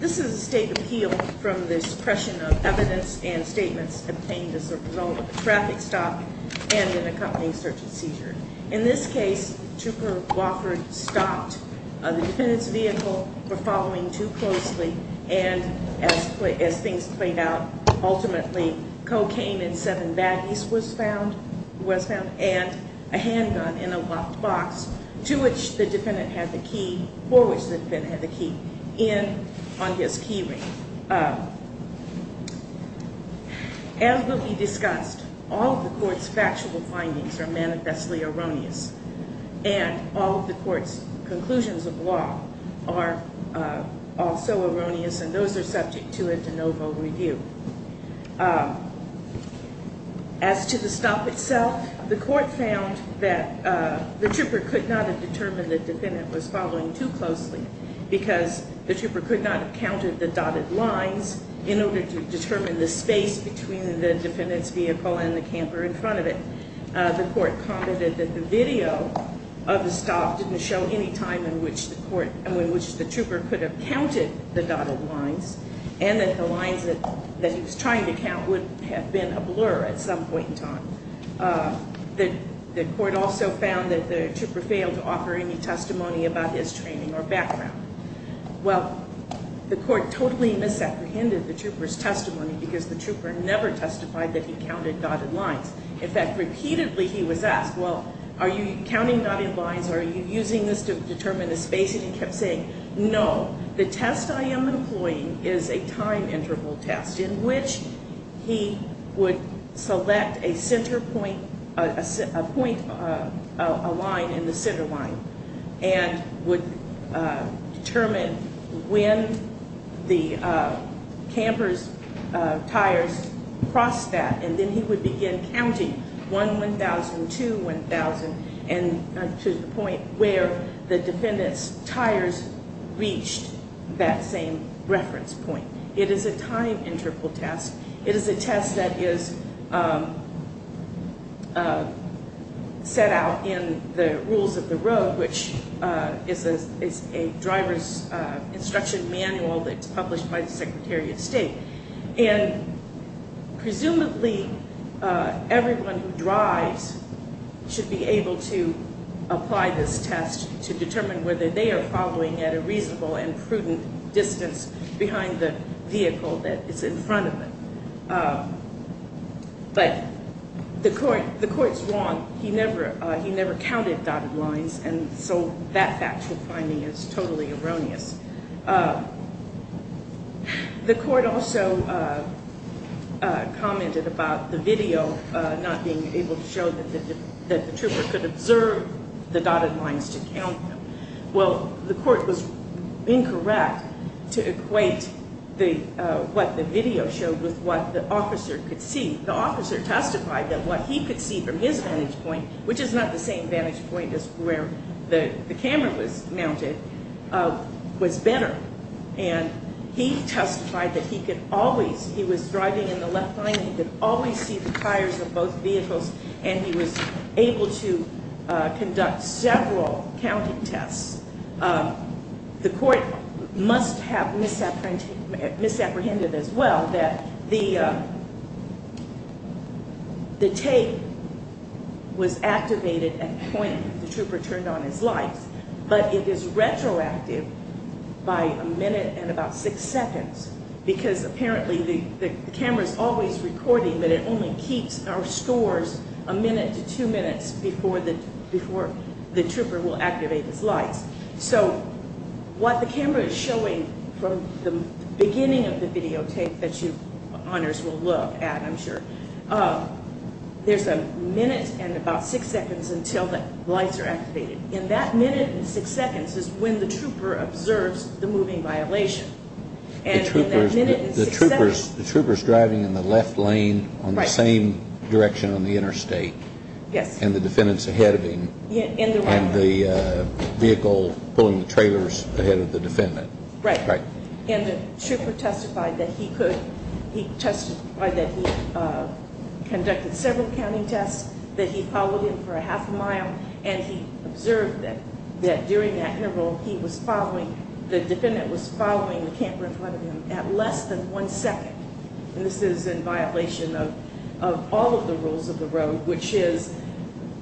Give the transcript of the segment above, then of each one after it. This is a state appeal from the suppression of evidence and statements obtained as a result of a traffic stop and an accompanying search and seizure. In this case, Trooper Wofford stopped the defendant's vehicle for following too closely and as things played out, ultimately cocaine in seven baggies was found and a handgun in a locked box to which the defendant had the key in on his key ring. As will be discussed, all of the court's factual findings are manifestly erroneous and all of the court's conclusions of law are also erroneous and those are subject to a de novo review. As to the stop itself, the court found that the trooper could not have determined the defendant was following too closely because the trooper could not have counted the dotted lines in order to determine the space between the defendant's vehicle and the camper in front of it. The court commented that the video of the stop didn't show any time in which the trooper could have counted the dotted lines and that the lines that he was trying to count would have been a blur at some point in time. The court also found that the trooper failed to offer any testimony about his training or background. Well, the court totally misapprehended the trooper's testimony because the trooper never testified that he counted dotted lines. In fact, repeatedly he was asked, well, are you counting dotted lines? Are you using this to determine the space? No, the test I am employing is a time interval test in which he would select a center point, a point, a line in the center line and would determine when the camper's tires crossed that. And then he would begin counting 1, 1,000, 2, 1,000 to the point where the defendant's tires reached that same reference point. It is a time interval test. It is a test that is set out in the Rules of the Road, which is a driver's instruction manual that's published by the Secretary of State. And presumably everyone who drives should be able to apply this test to determine whether they are following at a reasonable and prudent distance behind the vehicle that is in front of them. But the court's wrong. He never counted dotted lines and so that factual finding is totally erroneous. The court also commented about the video not being able to show that the trooper could observe the dotted lines to count them. Well, the court was incorrect to equate what the video showed with what the officer could see. The officer testified that what he could see from his vantage point, which is not the same vantage point as where the camera was mounted, was better. And he testified that he could always, he was driving in the left lane, he could always see the tires of both vehicles and he was able to conduct several counting tests. The court must have misapprehended as well that the tape was activated at the point the trooper turned on his lights, but it is retroactive by a minute and about six seconds. Because apparently the camera is always recording, but it only keeps or stores a minute to two minutes before the trooper will activate his lights. So what the camera is showing from the beginning of the videotape that you honors will look at, I'm sure, there's a minute and about six seconds until the lights are activated. And in that minute and six seconds is when the trooper observes the moving violation. The trooper is driving in the left lane on the same direction on the interstate. Yes. And the defendant's ahead of him and the vehicle pulling the trailers ahead of the defendant. Right. And the trooper testified that he could, he testified that he conducted several counting tests, that he followed him for a half a mile. And he observed that during that interval, he was following, the defendant was following the camera in front of him at less than one second. And this is in violation of all of the rules of the road, which is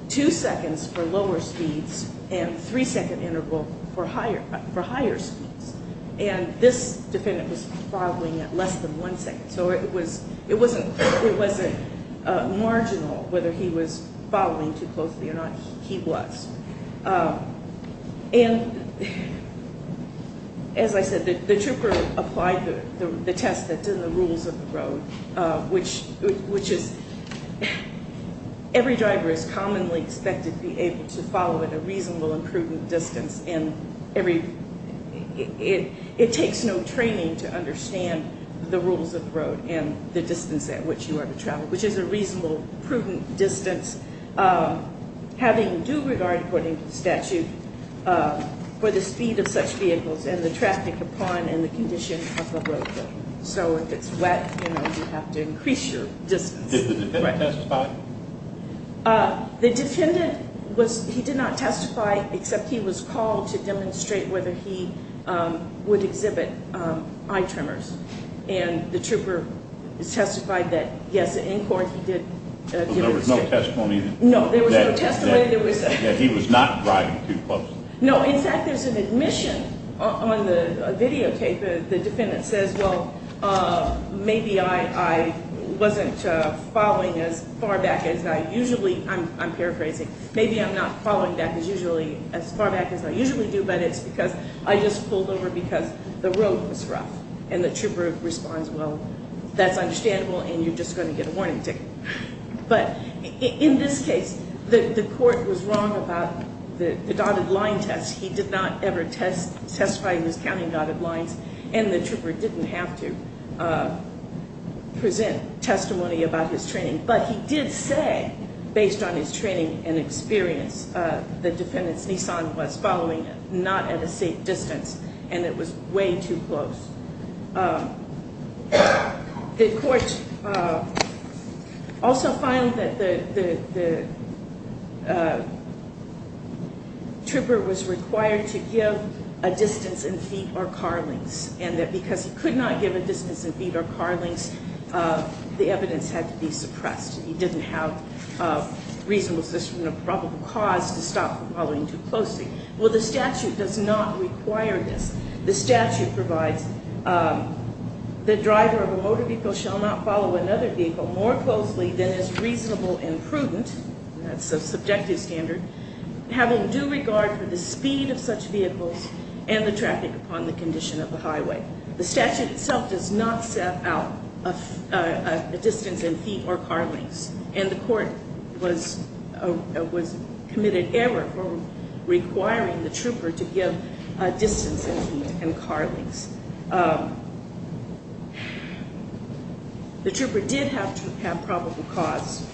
two seconds for lower speeds and three second interval for higher, for higher speeds. And this defendant was following at less than one second. So it was, it wasn't, it wasn't marginal whether he was following too closely or not. He was. And as I said, the trooper applied the test that did the rules of the road, which, which is every driver is commonly expected to be able to follow at a reasonable and prudent distance. And every, it, it takes no training to understand the rules of the road and the distance at which you are to travel, which is a reasonable, prudent distance. Having due regard, according to the statute, for the speed of such vehicles and the traffic upon and the condition of the roadway. So if it's wet, you know, you have to increase your distance. Did the defendant testify? The defendant was, he did not testify except he was called to demonstrate whether he would exhibit eye tremors. And the trooper testified that yes, in court he did. There was no testimony. No, there was no testimony. That he was not driving too close. No, in fact, there's an admission on the videotape. The defendant says, well, maybe I, I wasn't following as far back as I usually, I'm, I'm paraphrasing. Maybe I'm not following back as usually, as far back as I usually do, but it's because I just pulled over because the road was rough. And the trooper responds, well, that's understandable and you're just going to get a warning ticket. But in this case, the court was wrong about the dotted line test. He did not ever test, testify in his county dotted lines. And the trooper didn't have to present testimony about his training. But he did say, based on his training and experience, the defendant's Nissan was following not at a safe distance. And it was way too close. The court also found that the, the, the trooper was required to give a distance in feet or car lengths. And that because he could not give a distance in feet or car lengths, the evidence had to be suppressed. He didn't have a reasonable suspicion of probable cause to stop following too closely. Well, the statute does not require this. The statute provides the driver of a motor vehicle shall not follow another vehicle more closely than is reasonable and prudent. That's a subjective standard. Have a due regard for the speed of such vehicles and the traffic upon the condition of the highway. The statute itself does not set out a distance in feet or car lengths. And the court was, was committed error for requiring the trooper to give a distance in feet and car lengths. The trooper did have to have probable cause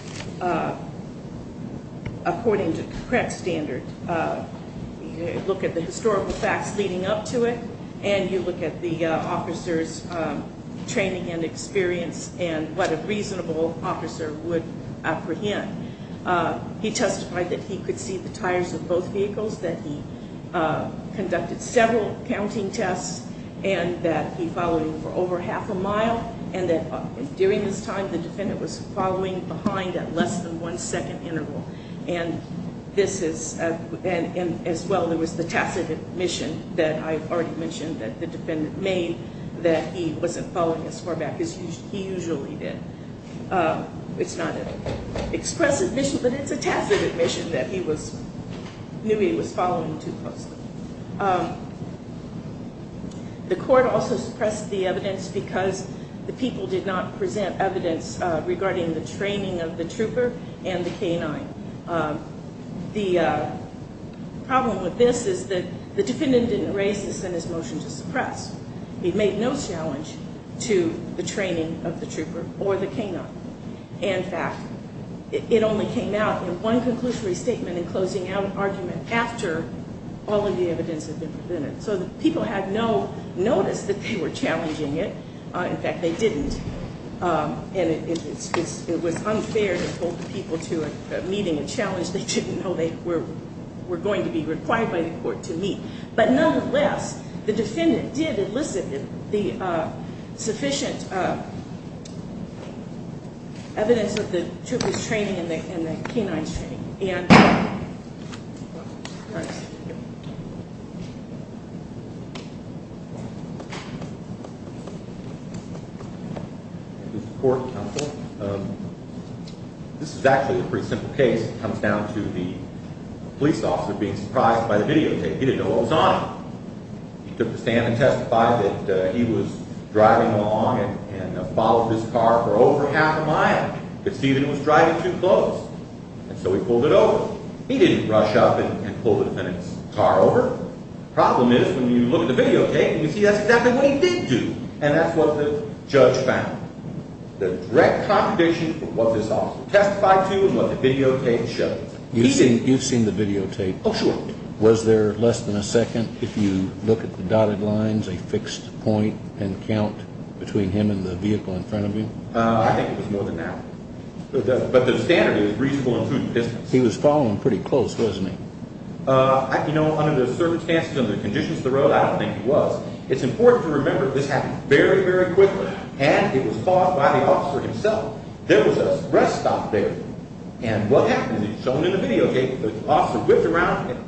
according to the correct standard. Look at the historical facts leading up to it. And you look at the officer's training and experience and what a reasonable officer would apprehend. He testified that he could see the tires of both vehicles, that he conducted several counting tests. And that he followed him for over half a mile. And that during this time the defendant was following behind at less than one second interval. And this is, and as well there was the tacit admission that I already mentioned that the defendant made that he wasn't following as far back as he usually did. It's not an expressive admission, but it's a tacit admission that he was, knew he was following too closely. The court also suppressed the evidence because the people did not present evidence regarding the training of the trooper and the canine. The problem with this is that the defendant didn't raise this in his motion to suppress. He made no challenge to the training of the trooper or the canine. In fact, it only came out in one conclusory statement in closing out argument after all of the evidence had been presented. So the people had no notice that they were challenging it. In fact, they didn't. And it was unfair to hold the people to meeting a challenge they didn't know they were going to be required by the court to meet. But nonetheless, the defendant did elicit the sufficient evidence of the trooper's training and the canine's training. This is actually a pretty simple case. It comes down to the police officer being surprised by the videotape. He didn't know what was on it. He took the stand and testified that he was driving along and followed this car for over half a mile because Stephen was driving too close. And so he pulled it over. He didn't rush up and pull the defendant's car over. The problem is when you look at the videotape, you see that's exactly what he did do. And that's what the judge found. The direct contradiction of what this officer testified to and what the videotape showed. You've seen the videotape. Oh, sure. Was there less than a second, if you look at the dotted lines, a fixed point and count between him and the vehicle in front of you? I think it was more than an hour. But the standard is reasonable and prudent distance. He was following pretty close, wasn't he? You know, under the circumstances, under the conditions of the road, I don't think he was. It's important to remember this happened very, very quickly, and it was caused by the officer himself. There was a rest stop there. And what happened is shown in the videotape, the officer whipped around.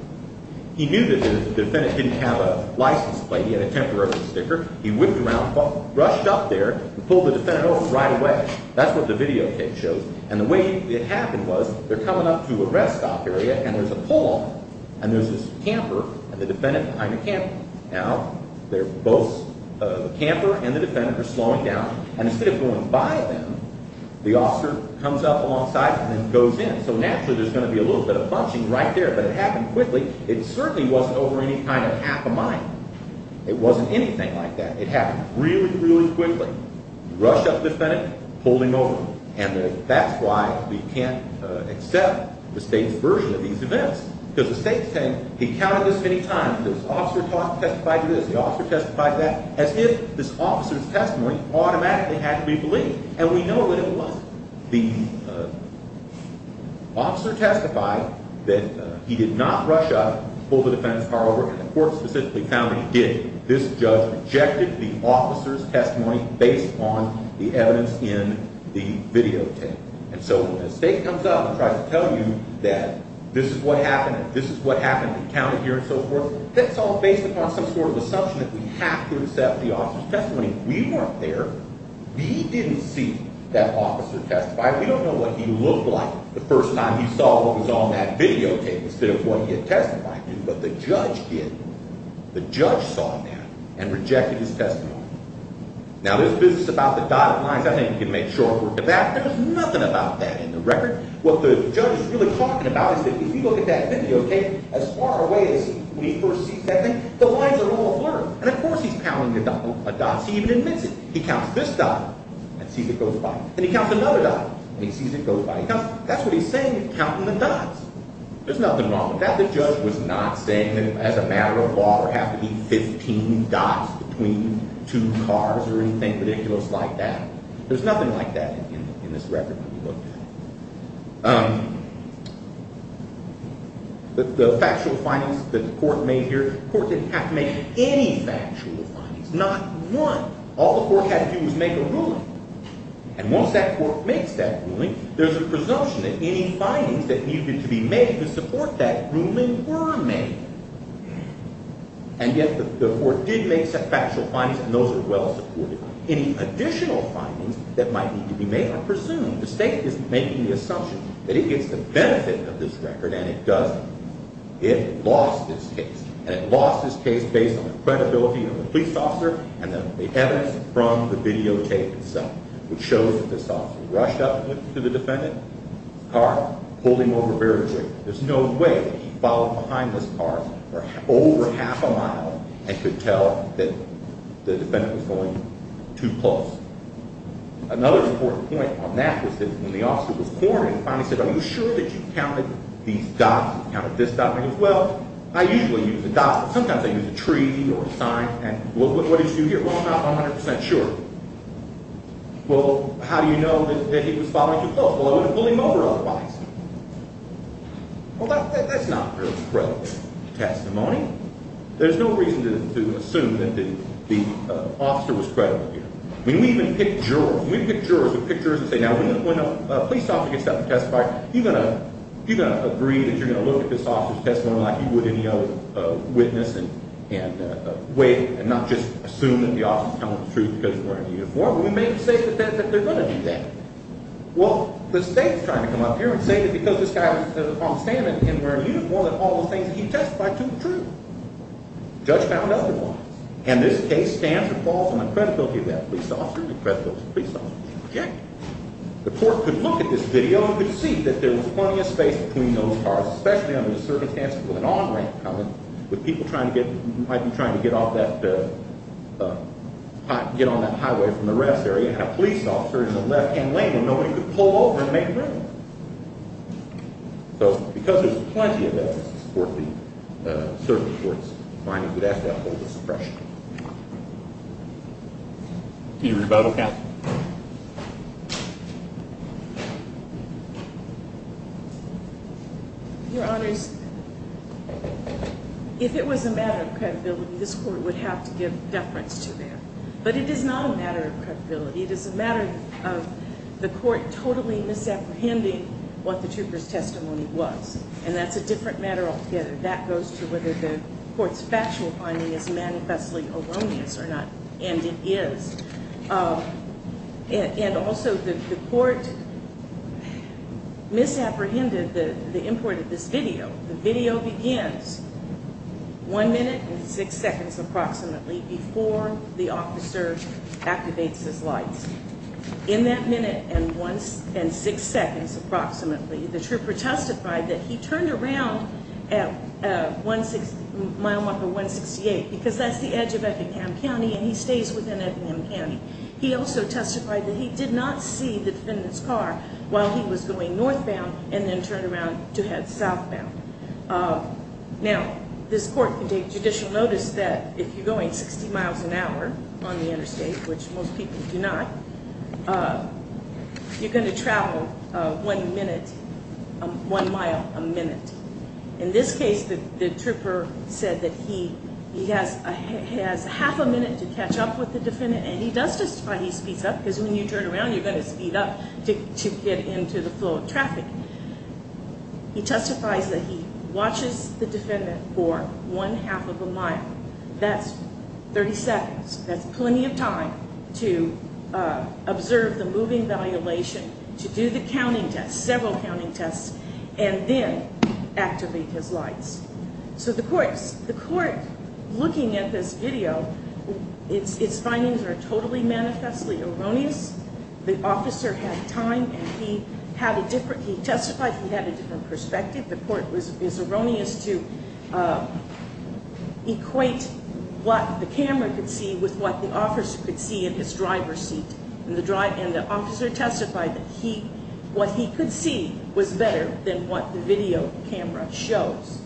He knew that the defendant didn't have a license plate. He had a temporary sticker. He whipped around, rushed up there, and pulled the defendant over right away. That's what the videotape shows. And the way it happened was they're coming up to a rest stop area, and there's a pole, and there's this camper and the defendant behind the camper. Now, both the camper and the defendant are slowing down. And instead of going by them, the officer comes up alongside and then goes in. So naturally, there's going to be a little bit of bunching right there, but it happened quickly. It certainly wasn't over any kind of half a mile. It wasn't anything like that. It happened really, really quickly. Rushed up the defendant, pulled him over. He counted this many times. The officer testified to this, the officer testified to that, as if this officer's testimony automatically had to be believed. And we know that it wasn't. The officer testified that he did not rush up, pull the defendant's car over, and the court specifically found he did. This judge rejected the officer's testimony based on the evidence in the videotape. And so when the state comes up and tries to tell you that this is what happened and this is what happened and counted here and so forth, that's all based upon some sort of assumption that we have to accept the officer's testimony. We weren't there. We didn't see that officer testify. We don't know what he looked like the first time he saw what was on that videotape instead of what he had testified to. But the judge did. The judge saw that and rejected his testimony. Now, this business about the dotted lines, I think you can make short work of that. There was nothing about that in the record. What the judge is really talking about is that if you look at that videotape, as far away as when he first sees that thing, the lines are all blurred. And, of course, he's counting the dots. He even admits it. He counts this dot and sees it goes by. Then he counts another dot and he sees it goes by. That's what he's saying, counting the dots. There's nothing wrong with that. The judge was not saying that it has a matter of law or has to be 15 dots between two cars or anything ridiculous like that. There's nothing like that in this record when you look at it. The factual findings that the court made here, the court didn't have to make any factual findings, not one. All the court had to do was make a ruling. And once that court makes that ruling, there's a presumption that any findings that needed to be made to support that ruling were made. And yet the court did make some factual findings, and those are well supported. Any additional findings that might need to be made are presumed. The state is making the assumption that it gets the benefit of this record, and it doesn't. It lost its case. And it lost its case based on the credibility of the police officer and the evidence from the videotape itself, which shows that this officer rushed up to the defendant's car, pulled him over very quickly. There's no way that he followed behind this car for over half a mile and could tell that the defendant was pulling too close. Another important point on that was that when the officer was cornered and finally said, are you sure that you counted these dots, you counted this dot? And he goes, well, I usually use a dot, but sometimes I use a tree or a sign. And what did you do here? Well, I'm not 100% sure. Well, how do you know that he was following too close? Well, I would have pulled him over otherwise. Well, that's not very credible testimony. There's no reason to assume that the officer was credible here. I mean, we even pick jurors. We pick jurors who pick jurors and say, now, when a police officer gets up and testifies, are you going to agree that you're going to look at this officer's testimony like you would any other witness and not just assume that the officer's telling the truth because he's wearing a uniform? We may say that they're going to do that. Well, the state's trying to come up here and say that because this guy was on stand-in and wearing a uniform and all those things, he testified to the truth. The judge found otherwise. And this case stands or falls on the credibility of that police officer and the credibility of the police officer's objective. The court could look at this video and could see that there was plenty of space between those cars, especially under the circumstances with an on-ramp coming, with people trying to get off that highway from the rest area, and a police officer in the left-hand lane when no one could pull over and make room. So because there's plenty of evidence to support the service court's finding, we'd have to have a little bit of suppression. Do you agree with that? Your Honors, if it was a matter of credibility, this court would have to give deference to that. But it is not a matter of credibility. It is a matter of the court totally misapprehending what the trooper's testimony was. And that's a different matter altogether. That goes to whether the court's factual finding is manifestly erroneous or not. And it is. And also the court misapprehended the import of this video. The video begins one minute and six seconds approximately before the officer activates his lights. In that minute and six seconds approximately, the trooper testified that he turned around at mile marker 168 because that's the edge of Effingham County and he stays within Effingham County. He also testified that he did not see the defendant's car while he was going northbound and then turned around to head southbound. Now, this court can take judicial notice that if you're going 60 miles an hour on the interstate, which most people do not, you're going to travel one minute, one mile a minute. In this case, the trooper said that he has half a minute to catch up with the defendant. And he does testify he speeds up because when you turn around, you're going to speed up to get into the flow of traffic. He testifies that he watches the defendant for one half of a mile. That's 30 seconds. That's plenty of time to observe the moving violation, to do the counting test, several counting tests, and then activate his lights. So the court, looking at this video, its findings are totally manifestly erroneous. The officer had time and he testified he had a different perspective. The court is erroneous to equate what the camera could see with what the officer could see in his driver's seat. And the officer testified that what he could see was better than what the video camera shows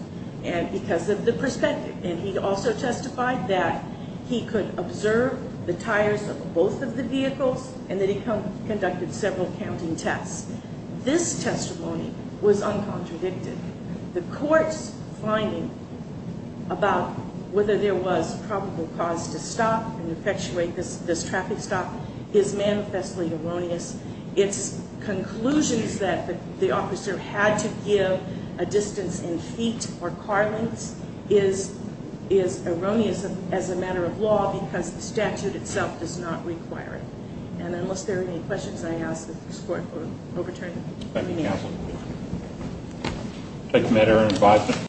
because of the perspective. And he also testified that he could observe the tires of both of the vehicles and that he conducted several counting tests. This testimony was uncontradicted. The court's finding about whether there was probable cause to stop and effectuate this traffic stop is manifestly erroneous. Its conclusions that the officer had to give a distance in feet or car lengths is erroneous as a matter of law because the statute itself does not require it. And unless there are any questions, I ask that the court overturn the hearing.